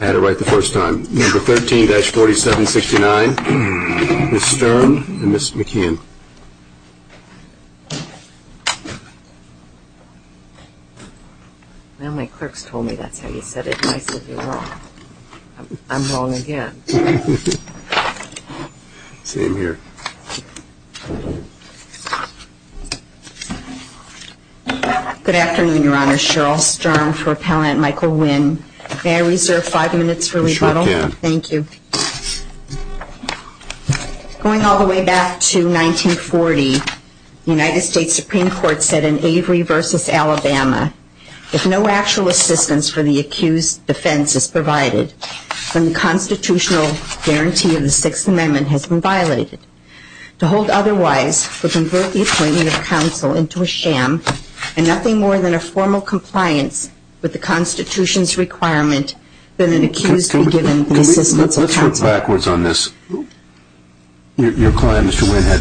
I had it right the first time. Number 13-4769, Ms. Stern and Ms. McKeon. Well, my clerks told me that's how you said it. I said you were wrong. I'm wrong again. Good afternoon, Your Honor. Cheryl Stern for Appellant Michael Nguyen. May I reserve five minutes for rebuttal? I'm sure you can. Thank you. Going all the way back to 1940, the United States Supreme Court said in Avery v. Alabama, if no actual assistance for the accused defense is provided, then the constitutional guarantee of the Sixth Amendment has been violated. To hold otherwise would convert the appointment of counsel into a sham and nothing more than a formal compliance with the Constitution's requirement that an accused be given the assistance of counsel. Your client, Mr. Nguyen, had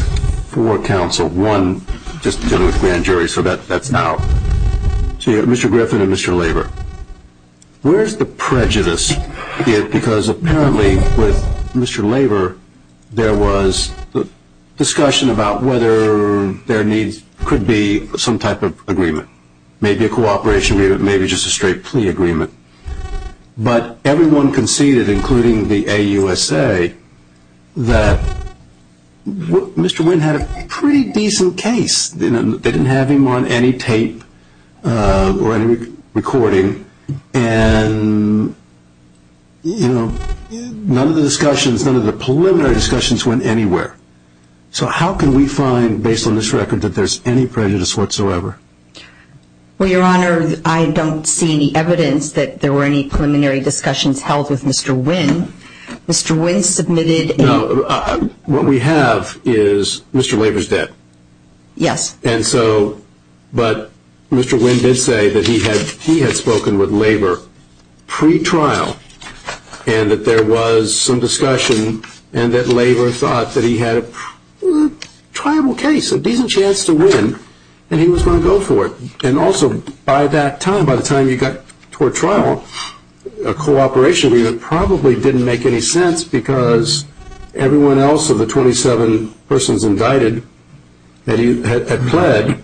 four counsel, one just dealing with grand jury, so that's out. So you have Mr. Griffin and Mr. Laver. Where's the prejudice? Because apparently with Mr. Laver there was discussion about whether there could be some type of agreement, maybe a cooperation agreement, maybe just a straight plea agreement. But everyone conceded, including the AUSA, that Mr. Nguyen had a pretty decent case. They didn't have him on any tape or any recording, and none of the preliminary discussions went anywhere. So how can we find, based on this record, that there's any prejudice whatsoever? Well, Your Honor, I don't see any evidence that there were any preliminary discussions held with Mr. Nguyen. Mr. Nguyen submitted a... No, what we have is Mr. Laver's debt. Yes. And so, but Mr. Nguyen did say that he had spoken with Laver pre-trial and that there was some discussion and that Laver thought that he had a tribal case, a decent chance to win, and he was going to go for it. And also, by that time, by the time you got toward trial, a cooperation agreement probably didn't make any sense because everyone else of the 27 persons indicted had pled,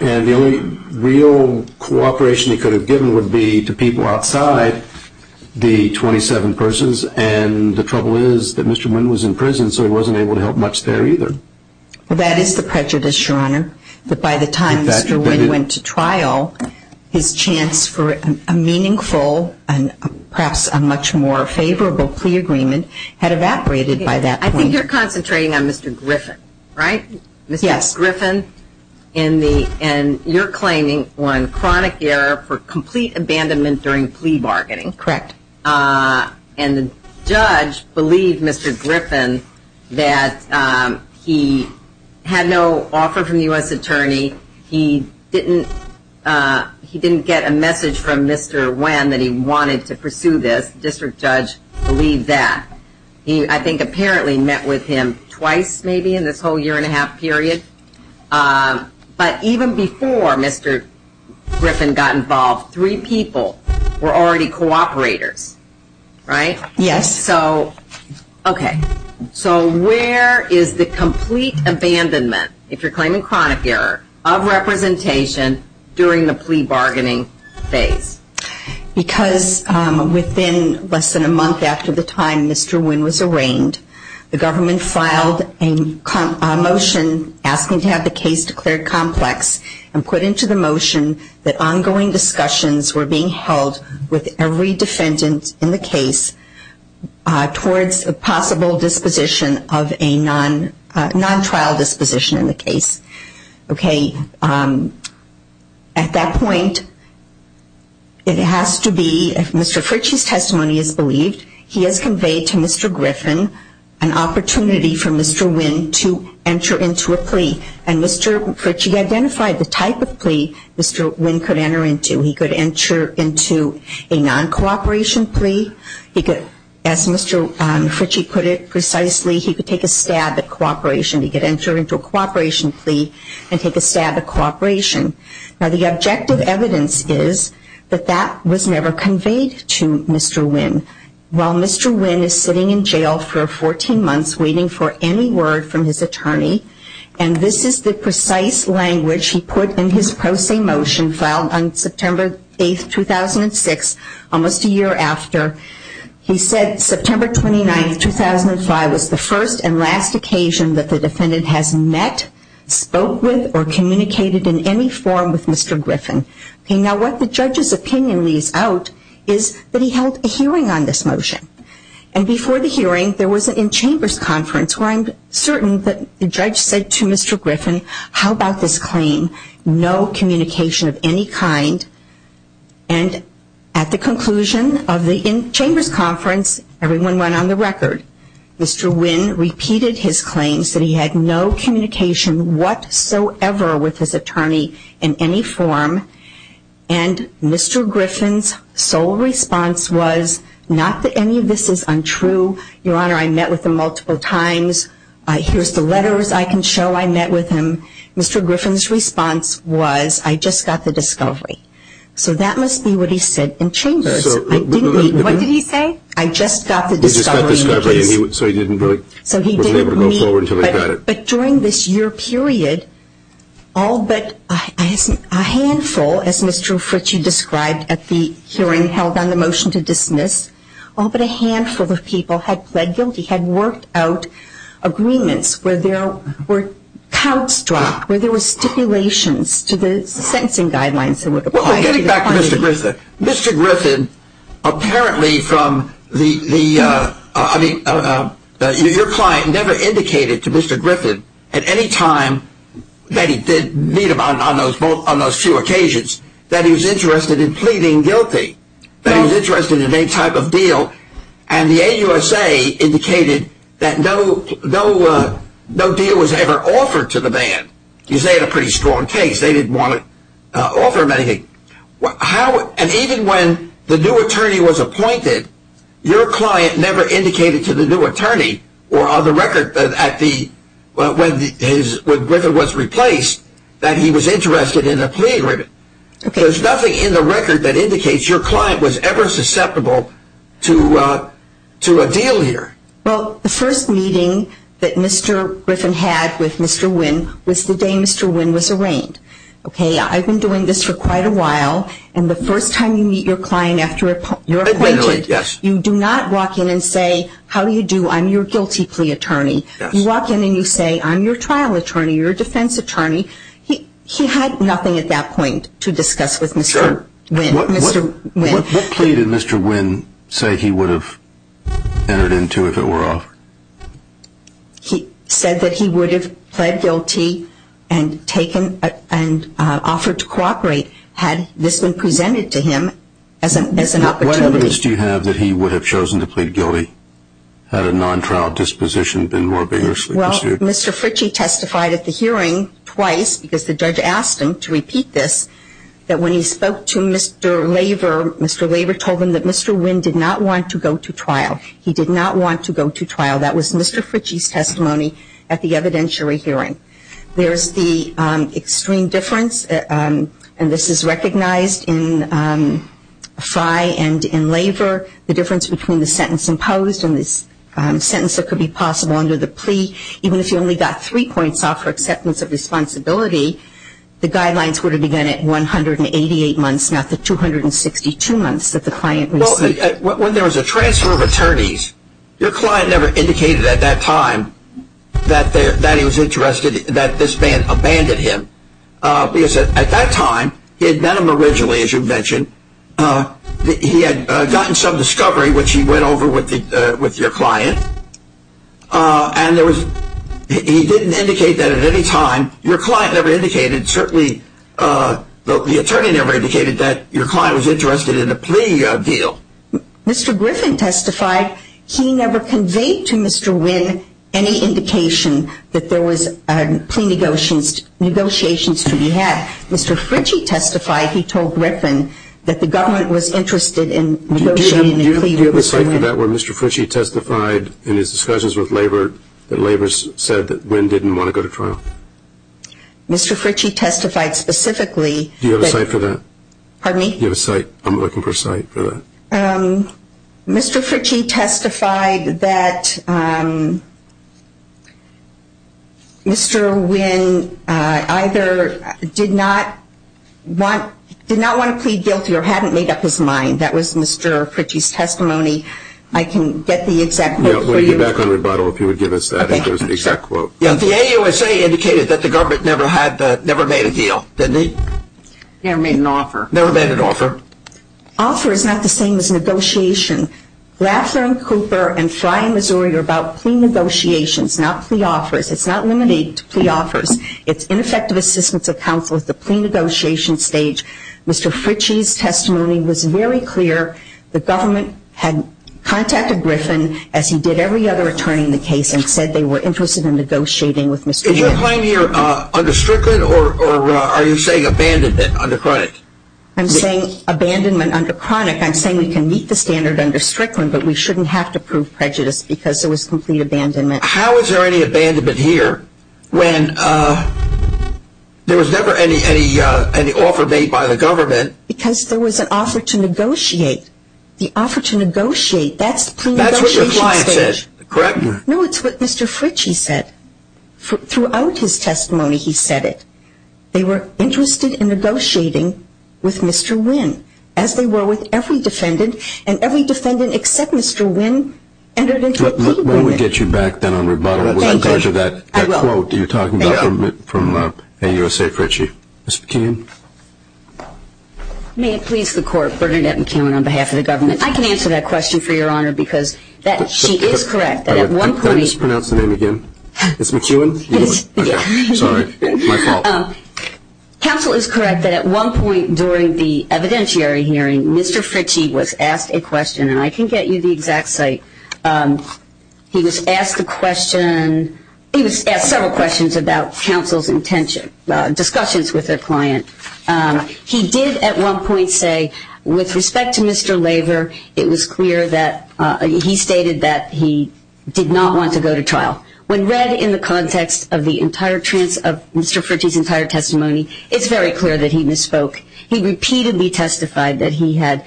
and the only real cooperation he could have given would be to people outside the 27 persons. And the trouble is that Mr. Nguyen was in prison, so he wasn't able to help much there either. Well, that is the prejudice, Your Honor, that by the time Mr. Nguyen went to trial, his chance for a meaningful and perhaps a much more favorable plea agreement had evaporated by that point. I think you're concentrating on Mr. Griffin, right? Yes. Mr. Griffin, and you're claiming one chronic error for complete abandonment during plea bargaining. Correct. And the judge believed Mr. Griffin that he had no offer from the U.S. attorney. He didn't get a message from Mr. Nguyen that he wanted to pursue this. The district judge believed that. He, I think, apparently met with him twice maybe in this whole year and a half period. But even before Mr. Griffin got involved, three people were already cooperators, right? Yes. Okay, so where is the complete abandonment, if you're claiming chronic error, of representation during the plea bargaining phase? Because within less than a month after the time Mr. Nguyen was arraigned, the government filed a motion asking to have the case declared complex and put into the motion that ongoing discussions were being held with every defendant in the case towards a possible disposition of a non-trial disposition in the case. Okay, at that point, it has to be, if Mr. Fritchie's testimony is believed, he has conveyed to Mr. Griffin an opportunity for Mr. Nguyen to enter into a plea. And Mr. Fritchie identified the type of plea Mr. Nguyen could enter into. He could enter into a non-cooperation plea. He could, as Mr. Fritchie put it precisely, he could take a stab at cooperation. He could enter into a cooperation plea and take a stab at cooperation. Now the objective evidence is that that was never conveyed to Mr. Nguyen. While Mr. Nguyen is sitting in jail for 14 months waiting for any word from his attorney, and this is the precise language he put in his pro se motion filed on September 8, 2006, almost a year after, he said September 29, 2005, was the first and last occasion that the defendant has met, spoke with, or communicated in any form with Mr. Griffin. Now what the judge's opinion leaves out is that he held a hearing on this motion. And before the hearing, there was an in-chambers conference where I'm certain that the judge said to Mr. Griffin, how about this claim, no communication of any kind. And at the conclusion of the in-chambers conference, everyone went on the record. Mr. Nguyen repeated his claims that he had no communication whatsoever with his attorney in any form. And Mr. Griffin's sole response was not that any of this is untrue. Your Honor, I met with him multiple times. Here's the letters I can show I met with him. Mr. Griffin's response was, I just got the discovery. So that must be what he said in chambers. What did he say? I just got the discovery. He just got the discovery, so he wasn't able to go forward until he got it. But during this year period, all but a handful, as Mr. Fritsch, you described, at the hearing held on the motion to dismiss, all but a handful of people had pled guilty, had worked out agreements where there were counts dropped, where there were stipulations to the sentencing guidelines that were applied. Getting back to Mr. Griffin, Mr. Griffin apparently from the, I mean, your client never indicated to Mr. Griffin at any time that he did meet him on those two occasions that he was interested in pleading guilty, that he was interested in any type of deal. And the AUSA indicated that no deal was ever offered to the band. Because they had a pretty strong case. They didn't want to offer him anything. And even when the new attorney was appointed, your client never indicated to the new attorney or on the record when Griffin was replaced that he was interested in a plea agreement. There's nothing in the record that indicates your client was ever susceptible to a deal here. Well, the first meeting that Mr. Griffin had with Mr. Wynn was the day Mr. Wynn was arraigned. Okay, I've been doing this for quite a while. And the first time you meet your client after you're appointed, you do not walk in and say, how do you do, I'm your guilty plea attorney. You walk in and you say, I'm your trial attorney, your defense attorney. What plea did Mr. Wynn say he would have entered into if it were offered? He said that he would have pled guilty and offered to cooperate had this been presented to him as an opportunity. What evidence do you have that he would have chosen to plead guilty had a non-trial disposition been more vigorously pursued? Well, Mr. Fritchie testified at the hearing twice, because the judge asked him to repeat this, that when he spoke to Mr. Laver, Mr. Laver told him that Mr. Wynn did not want to go to trial. He did not want to go to trial. That was Mr. Fritchie's testimony at the evidentiary hearing. There's the extreme difference, and this is recognized in Frey and in Laver, the difference between the sentence imposed and the sentence that could be possible under the plea. Even if you only got three points off for acceptance of responsibility, the guidelines were to be done at 188 months, not the 262 months that the client received. When there was a transfer of attorneys, your client never indicated at that time that he was interested, that this man abandoned him. At that time, he had met him originally, as you mentioned. He had gotten some discovery, which he went over with your client. And he didn't indicate that at any time. Your client never indicated, certainly the attorney never indicated that your client was interested in a plea deal. Mr. Griffin testified he never conveyed to Mr. Wynn any indication that there was plea negotiations to be had. Mr. Fritchie testified, he told Griffin, that the government was interested in negotiating a plea with Mr. Wynn. Do you have a cite for that where Mr. Fritchie testified in his discussions with Laver, that Laver said that Wynn didn't want to go to trial? Mr. Fritchie testified specifically. Do you have a cite for that? Pardon me? Do you have a cite? I'm looking for a cite for that. Mr. Fritchie testified that Mr. Wynn either did not want to plead guilty or hadn't made up his mind. That was Mr. Fritchie's testimony. I can get the exact quote for you. We'll get back on rebuttal if you would give us that exact quote. The AUSA indicated that the government never made a deal, didn't it? Never made an offer. Never made an offer. Offer is not the same as negotiation. Laffer and Cooper and Frye and Missouri are about plea negotiations, not plea offers. It's not limited to plea offers. It's ineffective assistance of counsel at the plea negotiation stage. Mr. Fritchie's testimony was very clear. The government had contacted Griffin, as he did every other attorney in the case, and said they were interested in negotiating with Mr. Wynn. Is your claim here under Strickland or are you saying abandonment under Cronic? I'm saying abandonment under Cronic. I'm saying we can meet the standard under Strickland, but we shouldn't have to prove prejudice because it was complete abandonment. How is there any abandonment here when there was never any offer made by the government? Because there was an offer to negotiate. The offer to negotiate, that's the plea negotiation stage. That's what your client said, correct? No, it's what Mr. Fritchie said. Throughout his testimony, he said it. They were interested in negotiating with Mr. Wynn, as they were with every defendant, and every defendant except Mr. Wynn entered into a plea agreement. When we get you back then on rebuttal, we'll encourage that quote you're talking about from AUSA Fritchie. Ms. McKeown? May it please the Court, Bernadette McKeown on behalf of the government. I can answer that question for Your Honor because she is correct that at one point Did I mispronounce the name again? Ms. McKeown? Yes. Sorry, my fault. Counsel is correct that at one point during the evidentiary hearing, Mr. Fritchie was asked a question, and I can get you the exact site. He was asked several questions about counsel's discussions with their client. He did at one point say, with respect to Mr. Laver, it was clear that he stated that he did not want to go to trial. When read in the context of Mr. Fritchie's entire testimony, it's very clear that he misspoke. He repeatedly testified that he had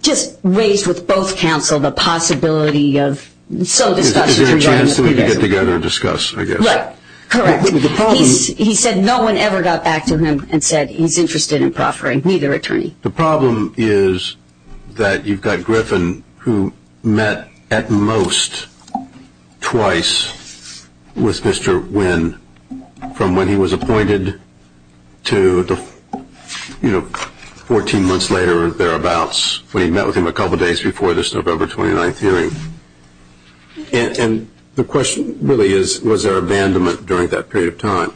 just raised with both counsel the possibility of Is there a chance that they could get together and discuss, I guess? Correct. He said no one ever got back to him and said he's interested in proffering, neither attorney. The problem is that you've got Griffin, who met at most twice with Mr. Wynn from when he was appointed to 14 months later or thereabouts, when he met with him a couple days before this November 29th hearing. And the question really is, was there abandonment during that period of time?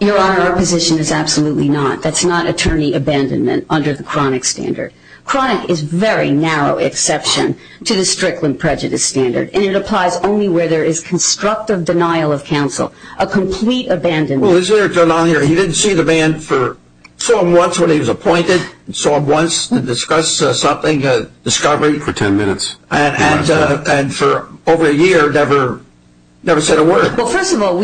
Your Honor, our position is absolutely not. That's not attorney abandonment under the chronic standard. Chronic is a very narrow exception to the Strickland prejudice standard, and it applies only where there is constructive denial of counsel. A complete abandonment. Well, is there a denial here? He didn't see the man for, saw him once when he was appointed, saw him once to discuss something, a discovery. For 10 minutes. And for over a year never said a word. Well, first of all,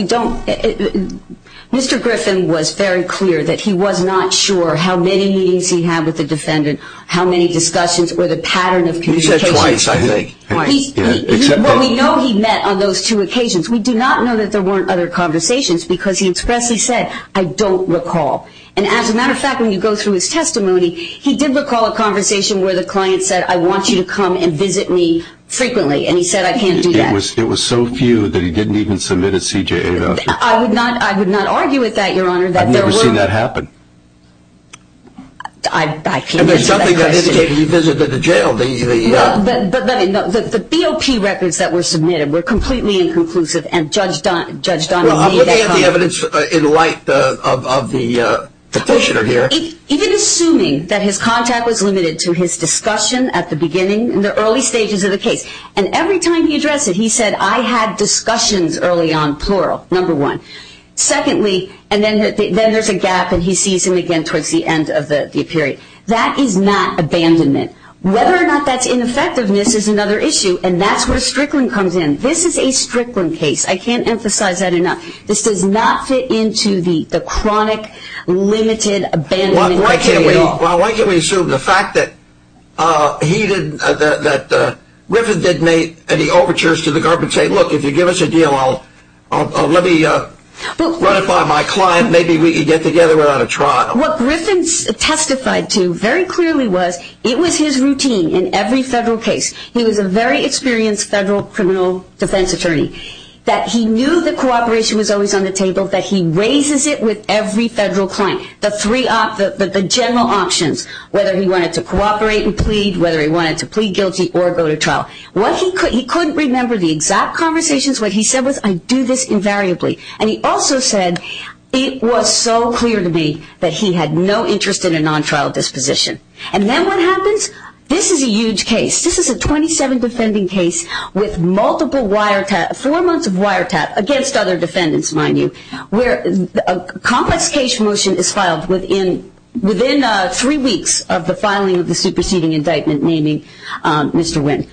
Mr. Griffin was very clear that he was not sure how many meetings he had with the defendant, how many discussions or the pattern of communication. He said twice, I think. Well, we know he met on those two occasions. We do not know that there weren't other conversations because he expressly said, I don't recall. And as a matter of fact, when you go through his testimony, he did recall a conversation where the client said, I want you to come and visit me frequently. And he said, I can't do that. It was so few that he didn't even submit a CJA document. I would not argue with that, Your Honor. I've never seen that happen. And there's something that indicated he visited the jail. But the BOP records that were submitted were completely inconclusive. And Judge Donovan made that comment. Well, I'm looking at the evidence in light of the petitioner here. Even assuming that his contact was limited to his discussion at the beginning, in the early stages of the case. And every time he addressed it, he said, I had discussions early on, plural, number one. Secondly, and then there's a gap, and he sees him again towards the end of the period. That is not abandonment. Whether or not that's ineffectiveness is another issue, and that's where Strickland comes in. This is a Strickland case. I can't emphasize that enough. This does not fit into the chronic, limited, abandonment. Well, why can't we assume the fact that he didn't, that Griffin didn't make any overtures to the guard and say, look, if you give us a deal, I'll let me run it by my client. Maybe we can get together without a trial. What Griffin testified to very clearly was it was his routine in every federal case. He was a very experienced federal criminal defense attorney. That he knew that cooperation was always on the table, that he raises it with every federal client. The general options, whether he wanted to cooperate and plead, whether he wanted to plead guilty or go to trial. He couldn't remember the exact conversations. What he said was, I do this invariably. And he also said, it was so clear to me that he had no interest in a non-trial disposition. And then what happens? This is a huge case. This is a 27 defending case with multiple wiretap, four months of wiretap against other defendants, mind you, where a complex case motion is filed within three weeks of the filing of the superseding indictment, naming Mr. Wynn.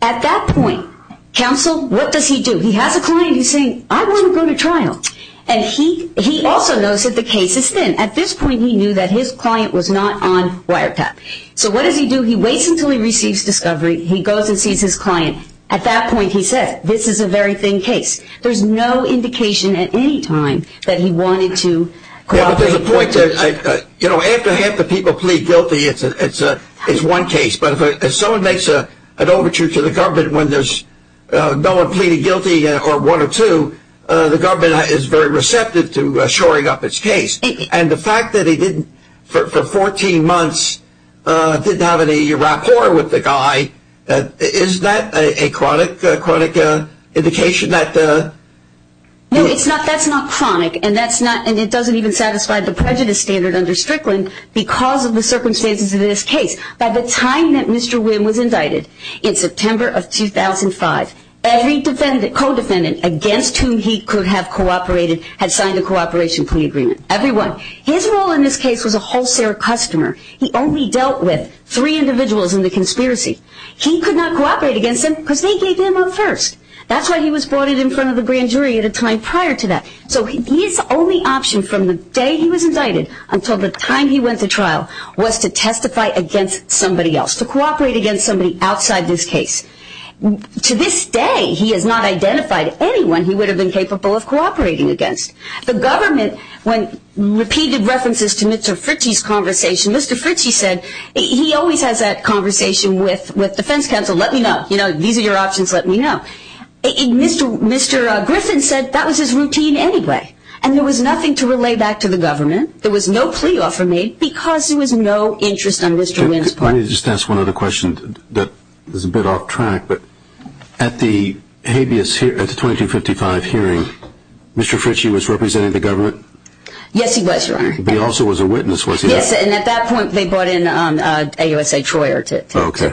At that point, counsel, what does he do? He has a client who's saying, I want to go to trial. And he also knows that the case is thin. At this point, he knew that his client was not on wiretap. So what does he do? He waits until he receives discovery. He goes and sees his client. At that point, he says, this is a very thin case. There's no indication at any time that he wanted to cooperate. You know, after half the people plead guilty, it's one case. But if someone makes an overture to the government when there's no one pleading guilty or one or two, the government is very receptive to shoring up its case. And the fact that he didn't, for 14 months, didn't have any rapport with the guy, is that a chronic indication that? No, that's not chronic. And it doesn't even satisfy the prejudice standard under Strickland because of the circumstances of this case. By the time that Mr. Wynn was indicted in September of 2005, every co-defendant against whom he could have cooperated had signed a cooperation plea agreement. Everyone. His role in this case was a wholesale customer. He only dealt with three individuals in the conspiracy. He could not cooperate against them because they gave him up first. That's why he was brought in front of the grand jury at a time prior to that. So his only option from the day he was indicted until the time he went to trial was to testify against somebody else, to cooperate against somebody outside this case. To this day, he has not identified anyone he would have been capable of cooperating against. The government, when repeated references to Mr. Fritchie's conversation, Mr. Fritchie said, he always has that conversation with defense counsel. Let me know. These are your options. Let me know. Mr. Griffin said that was his routine anyway. And there was nothing to relay back to the government. There was no plea offer made because there was no interest on Mr. Wynn's part. Let me just ask one other question that is a bit off track. At the habeas hearing, at the 2255 hearing, Mr. Fritchie was representing the government? Yes, he was, Your Honor. But he also was a witness, was he not? Yes, and at that point they brought in AUSA Troyer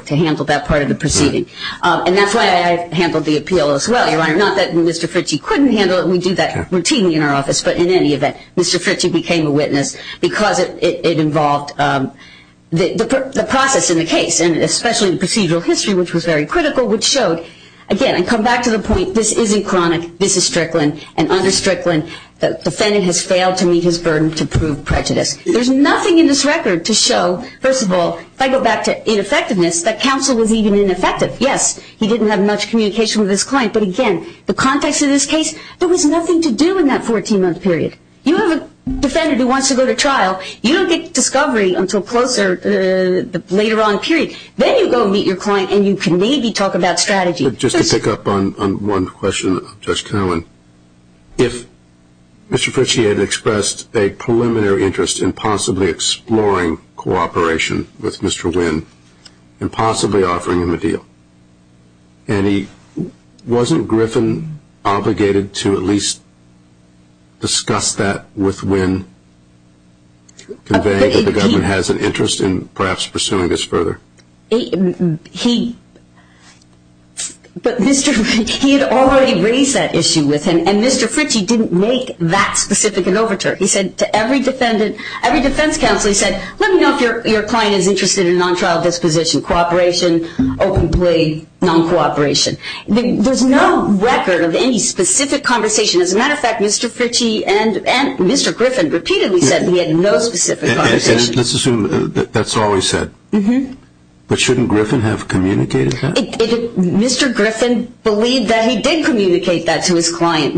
to handle that part of the proceeding. And that's why I handled the appeal as well, Your Honor. Not that Mr. Fritchie couldn't handle it. We do that routinely in our office. But in any event, Mr. Fritchie became a witness because it involved the process in the case, and especially the procedural history, which was very critical, which showed, again, I come back to the point, this isn't chronic. This is Strickland. And under Strickland, the defendant has failed to meet his burden to prove prejudice. There's nothing in this record to show, first of all, if I go back to ineffectiveness, that counsel was even ineffective. Yes, he didn't have much communication with his client. But, again, the context of this case, there was nothing to do in that 14-month period. You have a defendant who wants to go to trial. You don't get discovery until closer, the later on period. Then you go meet your client and you can maybe talk about strategy. Just to pick up on one question, Judge Connell, if Mr. Fritchie had expressed a preliminary interest in possibly exploring cooperation with Mr. Wynn and possibly offering him a deal, wasn't Griffin obligated to at least discuss that with Wynn, convey that the government has an interest in perhaps pursuing this further? He had already raised that issue with him, and Mr. Fritchie didn't make that specific an overture. He said to every defense counsel, he said, let me know if your client is interested in non-trial disposition, cooperation, open plea, non-cooperation. There's no record of any specific conversation. As a matter of fact, Mr. Fritchie and Mr. Griffin repeatedly said he had no specific conversation. Let's assume that's all he said. But shouldn't Griffin have communicated that? Mr. Griffin believed that he did communicate that to his client.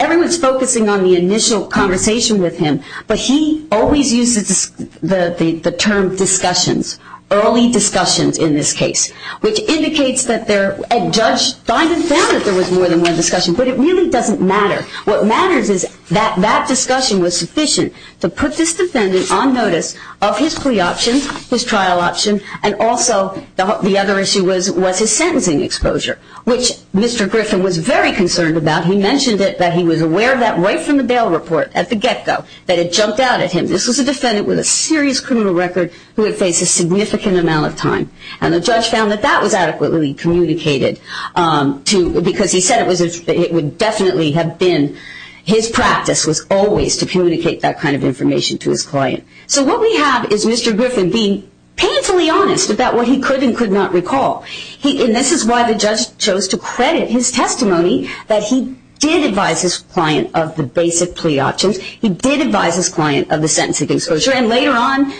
Everyone's focusing on the initial conversation with him, but he always uses the term discussions, early discussions in this case, which indicates that a judge found that there was more than one discussion, but it really doesn't matter. What matters is that that discussion was sufficient to put this defendant on notice of his plea option, his trial option, and also the other issue was his sentencing exposure, which Mr. Griffin was very concerned about. He mentioned that he was aware of that right from the bail report at the get-go, that it jumped out at him. This was a defendant with a serious criminal record who had faced a significant amount of time, and the judge found that that was adequately communicated because he said it would definitely have been. His practice was always to communicate that kind of information to his client. So what we have is Mr. Griffin being painfully honest about what he could and could not recall, and this is why the judge chose to credit his testimony that he did advise his client of the basic plea options, he did advise his client of the sentencing exposure, and later on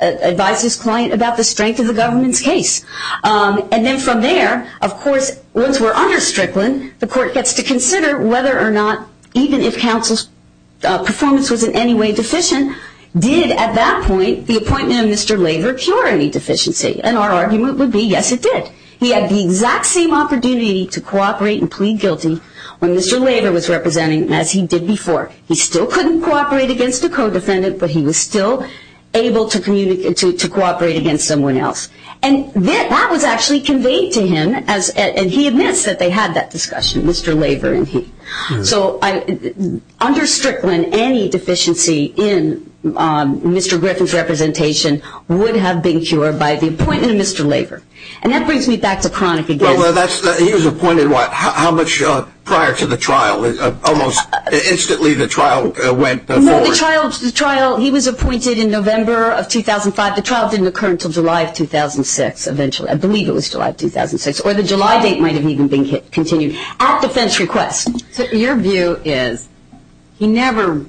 advised his client about the strength of the government's case. And then from there, of course, once we're under Strickland, the court gets to consider whether or not, even if counsel's performance was in any way deficient, did at that point the appointment of Mr. Laver cure any deficiency, and our argument would be, yes, it did. He had the exact same opportunity to cooperate and plead guilty when Mr. Laver was representing, and as he did before, he still couldn't cooperate against a co-defendant, but he was still able to cooperate against someone else. And that was actually conveyed to him, and he admits that they had that discussion, Mr. Laver. So under Strickland, any deficiency in Mr. Griffin's representation would have been cured by the appointment of Mr. Laver. And that brings me back to Kronick again. Well, he was appointed, what, how much prior to the trial? Almost instantly the trial went forward. No, the trial, he was appointed in November of 2005. The trial didn't occur until July of 2006, eventually. I believe it was July of 2006, or the July date might have even been continued. At defense request. So your view is he never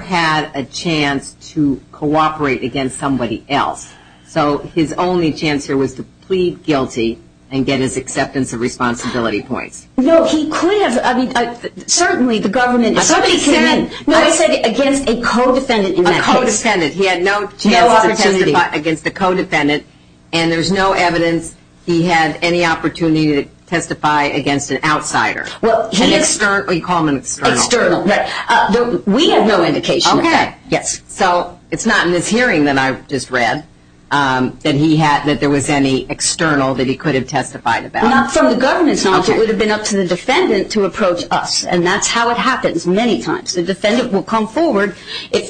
had a chance to cooperate against somebody else, so his only chance here was to plead guilty and get his acceptance of responsibility points. No, he could have. I mean, certainly the government. Somebody came in. No, I said against a co-defendant. A co-defendant. He had no chance to testify against a co-defendant, and there's no evidence he had any opportunity to testify against an outsider. Well, he is. An external. You call him an external. External, right. We have no indication of that. Okay. Yes. So it's not in this hearing that I just read that he had, that there was any external that he could have testified about. Not from the government's knowledge. Okay. It would have been up to the defendant to approach us, and that's how it happens many times. The defendant will come forward and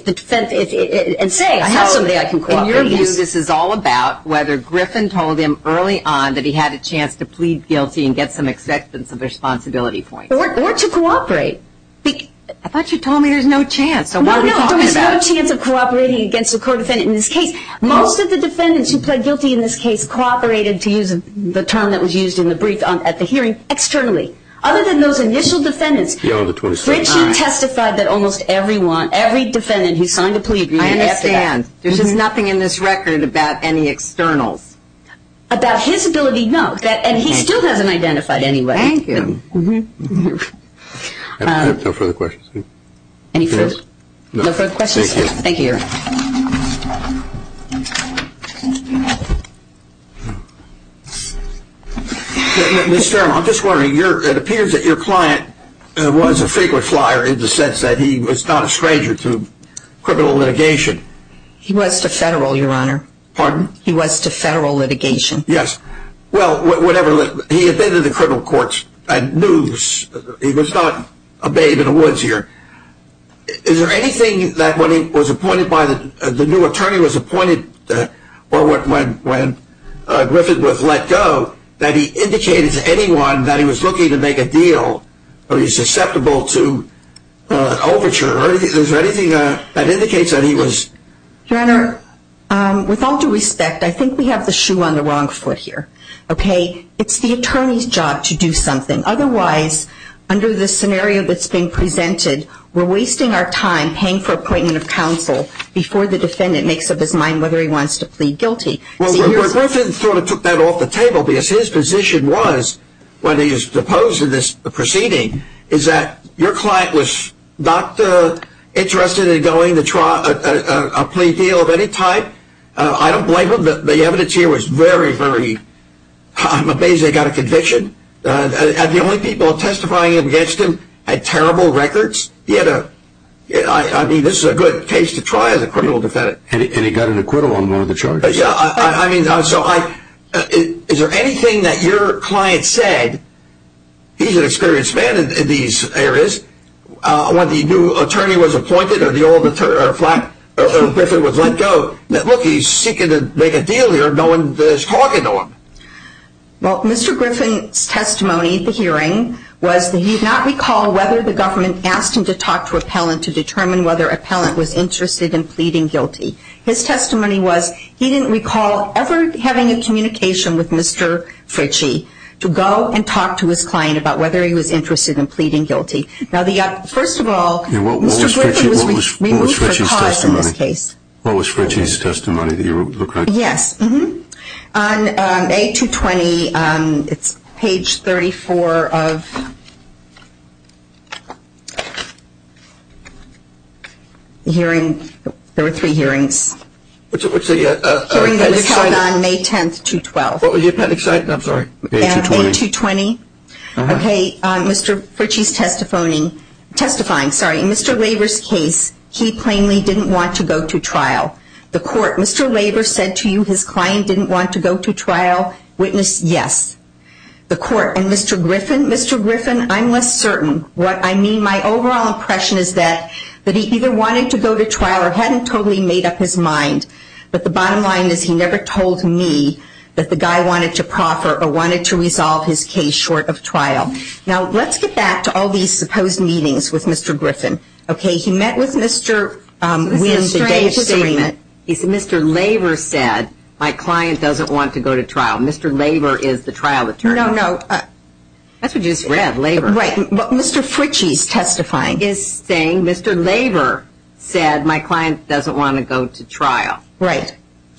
say, I have somebody I can cooperate with. In your view, this is all about whether Griffin told him early on that he had a chance to plead guilty and get some acceptance of responsibility points. Or to cooperate. I thought you told me there's no chance. No, no. There was no chance of cooperating against a co-defendant in this case. Most of the defendants who pled guilty in this case cooperated, to use the term that was used in the brief at the hearing, externally. Other than those initial defendants. Richard testified that almost everyone, every defendant who signed a plea agreement after that. I understand. There's just nothing in this record about any externals. About his ability, no. And he still hasn't identified anybody. Thank you. I have no further questions. Any further questions? Thank you. Mr. Stern, I'm just wondering. It appears that your client was a frequent flyer in the sense that he was not a stranger to criminal litigation. He was to federal, Your Honor. Pardon? He was to federal litigation. Yes. Well, whatever. He attended the criminal courts. I knew he was not a babe in the woods here. Is there anything that when he was appointed by the, the new attorney was appointed, or when Griffith was let go, that he indicated to anyone that he was looking to make a deal? Or he's susceptible to overture? Is there anything that indicates that he was? Your Honor, with all due respect, I think we have the shoe on the wrong foot here. Okay? It's the attorney's job to do something. Otherwise, under the scenario that's been presented, we're wasting our time paying for appointment of counsel before the defendant makes up his mind whether he wants to plead guilty. Well, the way Griffith sort of took that off the table, because his position was when he was deposed in this proceeding, is that your client was not interested in going to try a plea deal of any type. I don't blame him. The evidence here was very, very, I'm amazed they got a conviction. The only people testifying against him had terrible records. He had a, I mean, this is a good case to try as a criminal defendant. And he got an acquittal on one of the charges. Yeah, I mean, so I, is there anything that your client said, he's an experienced man in these areas, when the new attorney was appointed, or the old attorney, or Griffith was let go, that look, he's seeking to make a deal here, no one is talking to him. Well, Mr. Griffith's testimony at the hearing was that he did not recall whether the government asked him to talk to appellant to determine whether appellant was interested in pleading guilty. His testimony was he didn't recall ever having a communication with Mr. Fritchie to go and talk to his client about whether he was interested in pleading guilty. Now, first of all, Mr. Griffith was removed for cause in this case. What was Fritchie's testimony that you were looking at? Yes, on A220, it's page 34 of the hearing, there were three hearings. What's the case? The hearing that was held on May 10th, 2012. Oh, you're kind of excited, I'm sorry. A220. A220. Okay, Mr. Fritchie's testifying, sorry, in Mr. Laver's case, he plainly didn't want to go to trial. The court, Mr. Laver said to you his client didn't want to go to trial, witness yes. The court, and Mr. Griffin, Mr. Griffin, I'm less certain. What I mean, my overall impression is that he either wanted to go to trial or hadn't totally made up his mind. But the bottom line is he never told me that the guy wanted to proffer or wanted to resolve his case short of trial. Now, let's get back to all these supposed meetings with Mr. Griffin. Okay, he met with Mr. Winn-Strange. Mr. Laver said my client doesn't want to go to trial. Mr. Laver is the trial attorney. No, no. That's what you just read, Laver. Right, but Mr. Fritchie's testifying. He's saying Mr. Laver said my client doesn't want to go to trial. Right.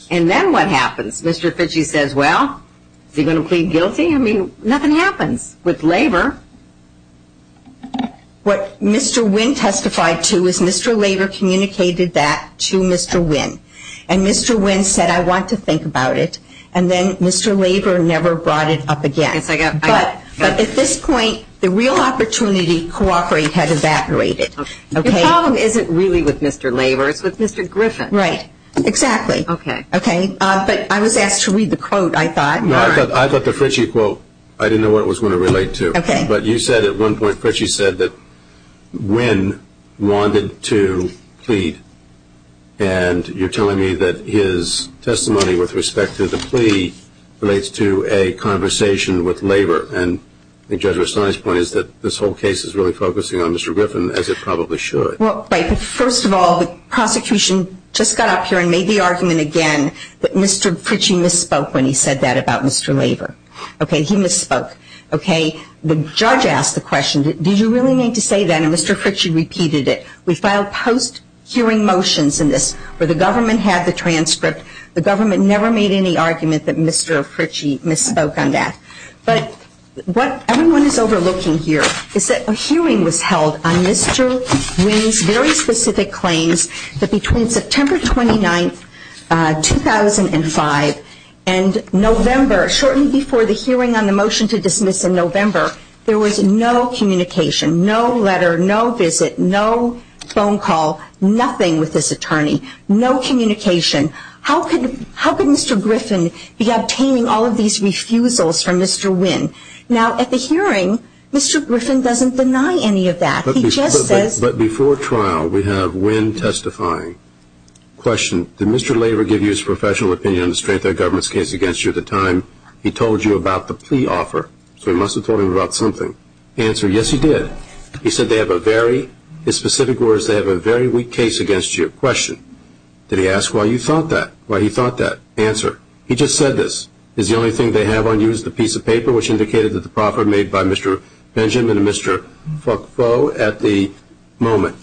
And then what happens? Mr. Fritchie says, well, is he going to plead guilty? I mean, nothing happens with Laver. What Mr. Winn testified to is Mr. Laver communicated that to Mr. Winn. And Mr. Winn said, I want to think about it. And then Mr. Laver never brought it up again. But at this point, the real opportunity cooperate had evaporated. The problem isn't really with Mr. Laver. It's with Mr. Griffin. Right. Exactly. Okay. Okay, but I was asked to read the quote, I thought. No, I thought the Fritchie quote, I didn't know what it was going to relate to. Okay. But you said at one point, Fritchie said that Winn wanted to plead. And you're telling me that his testimony with respect to the plea relates to a conversation with Laver. And I think Judge Rastani's point is that this whole case is really focusing on Mr. Griffin, as it probably should. Well, first of all, the prosecution just got up here and made the argument again that Mr. Fritchie misspoke when he said that about Mr. Laver. Okay, he misspoke. Okay. The judge asked the question, did you really mean to say that? And Mr. Fritchie repeated it. We filed post-hearing motions in this where the government had the transcript. The government never made any argument that Mr. Fritchie misspoke on that. But what everyone is overlooking here is that a hearing was held on Mr. Winn's very specific claims that between September 29, 2005, and November, shortly before the hearing on the motion to dismiss in November, there was no communication, no letter, no visit, no phone call, nothing with this attorney. No communication. How could Mr. Griffin be obtaining all of these refusals from Mr. Winn? Now, at the hearing, Mr. Griffin doesn't deny any of that. But before trial, we have Winn testifying. Question. Did Mr. Laver give you his professional opinion on the strength of the government's case against you at the time he told you about the plea offer? So he must have told him about something. Answer. Yes, he did. He said they have a very, his specific words, they have a very weak case against you. Question. Did he ask why you thought that, why he thought that? Answer. He just said this. Is the only thing they have on you is the piece of paper which indicated that the proffer made by Mr. Benjamin and Mr. Foucault at the moment?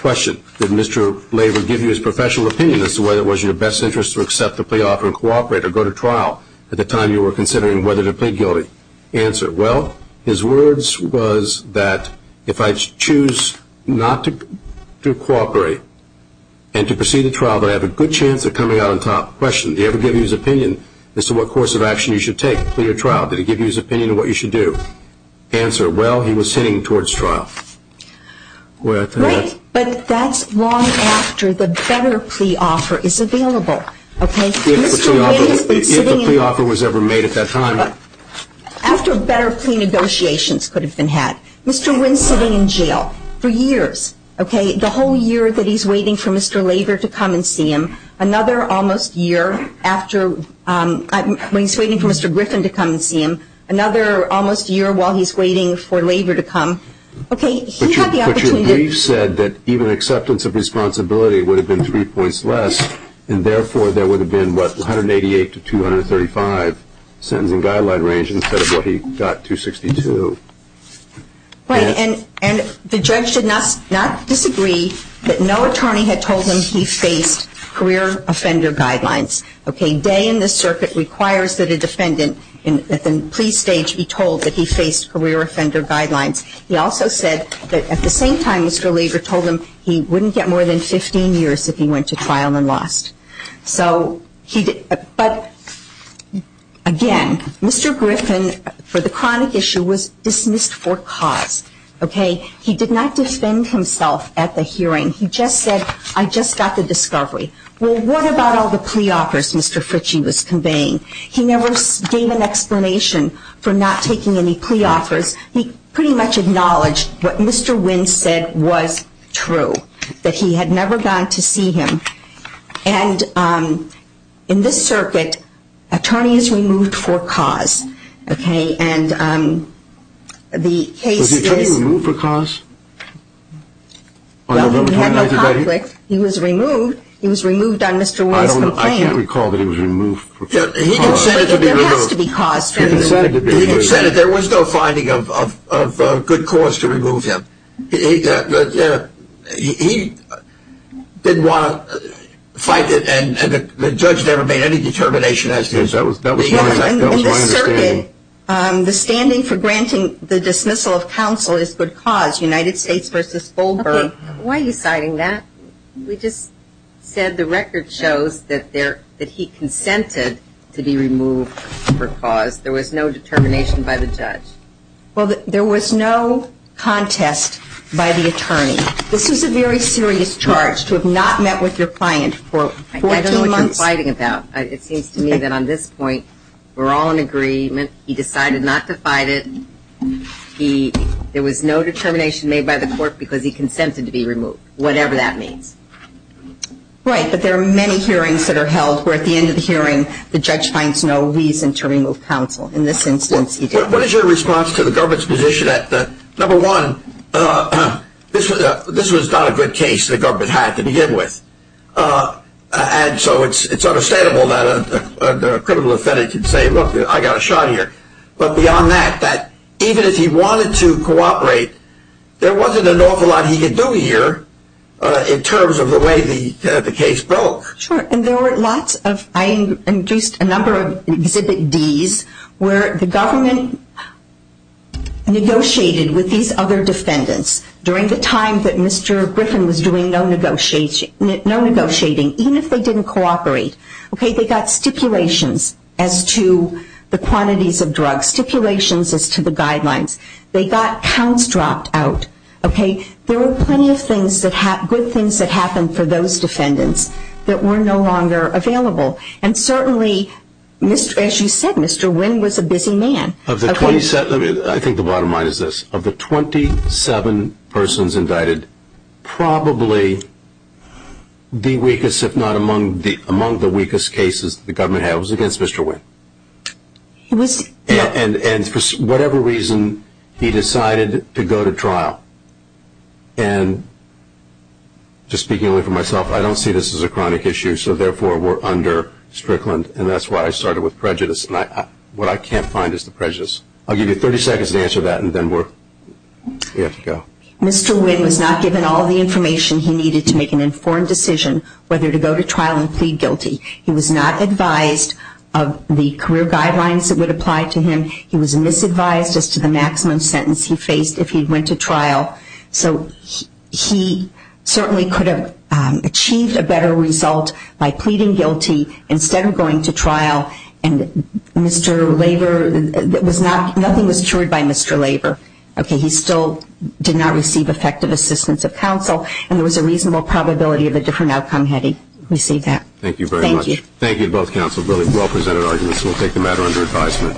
Question. Did Mr. Laver give you his professional opinion as to whether it was in your best interest to accept the plea offer and cooperate or go to trial at the time you were considering whether to plead guilty? Answer. Well, his words was that if I choose not to cooperate and to proceed to trial, that I have a good chance of coming out on top. Question. Did he ever give you his opinion as to what course of action you should take, plea or trial? Did he give you his opinion of what you should do? Answer. Well, he was heading towards trial. Right, but that's long after the better plea offer is available. If the plea offer was ever made at that time. After better plea negotiations could have been had. Mr. Wynn's sitting in jail for years. The whole year that he's waiting for Mr. Laver to come and see him, another almost year after, when he's waiting for Mr. Griffin to come and see him, another almost year while he's waiting for Laver to come. Okay, he had the opportunity. But your brief said that even acceptance of responsibility would have been three points less, and therefore there would have been, what, 188 to 235 sentencing guideline range instead of what he got, 262. Right, and the judge should not disagree that no attorney had told him he faced career offender guidelines. Okay, day in the circuit requires that a defendant at the plea stage be told that he faced career offender guidelines. He also said that at the same time Mr. Laver told him he wouldn't get more than 15 years if he went to trial and lost. So, but again, Mr. Griffin, for the chronic issue, was dismissed for cause. Okay, he did not defend himself at the hearing. He just said, I just got the discovery. Well, what about all the plea offers Mr. Fritchie was conveying? He never gave an explanation for not taking any plea offers. He pretty much acknowledged what Mr. Wynn said was true, that he had never gone to see him. And in this circuit, attorney is removed for cause, okay, and the case is Was the attorney removed for cause? Well, he had no conflict. He was removed. He was removed on Mr. Wynn's complaint. I can't recall that he was removed for cause. He did say that there was no finding of good cause to remove him. He didn't want to fight it, and the judge never made any determination as to his oath. That was my understanding. In this circuit, the standing for granting the dismissal of counsel is good cause, United States v. Goldberg. Okay, why are you citing that? We just said the record shows that he consented to be removed for cause. There was no determination by the judge. Well, there was no contest by the attorney. This is a very serious charge, to have not met with your client for 14 months. I don't know what you're fighting about. It seems to me that on this point, we're all in agreement. He decided not to fight it. There was no determination made by the court because he consented to be removed, whatever that means. Right, but there are many hearings that are held where at the end of the hearing, In this instance, he did. What is your response to the government's position that, number one, this was not a good case the government had to begin with, and so it's understandable that a criminal defendant can say, look, I got a shot here. But beyond that, that even if he wanted to cooperate, there wasn't an awful lot he could do here in terms of the way the case broke. Sure, and there were lots of, I introduced a number of Exhibit Ds, where the government negotiated with these other defendants during the time that Mr. Griffin was doing no negotiating, even if they didn't cooperate. They got stipulations as to the quantities of drugs, stipulations as to the guidelines. They got counts dropped out. There were plenty of good things that happened for those defendants that were no longer available. And certainly, as you said, Mr. Wynn was a busy man. I think the bottom line is this. Of the 27 persons indicted, probably the weakest, if not among the weakest cases the government had, was against Mr. Wynn. And for whatever reason, he decided to go to trial. And just speaking only for myself, I don't see this as a chronic issue, so therefore we're under Strickland, and that's why I started with prejudice. What I can't find is the prejudice. I'll give you 30 seconds to answer that, and then we'll have to go. Mr. Wynn was not given all the information he needed to make an informed decision whether to go to trial and plead guilty. He was not advised of the career guidelines that would apply to him. He was misadvised as to the maximum sentence he faced if he went to trial. So he certainly could have achieved a better result by pleading guilty instead of going to trial, and nothing was cured by Mr. Laver. Okay, he still did not receive effective assistance of counsel, and there was a reasonable probability of a different outcome had he received that. Thank you very much. Thank you. Thank you to both counsel. Really well-presented arguments. We'll take the matter under advisement.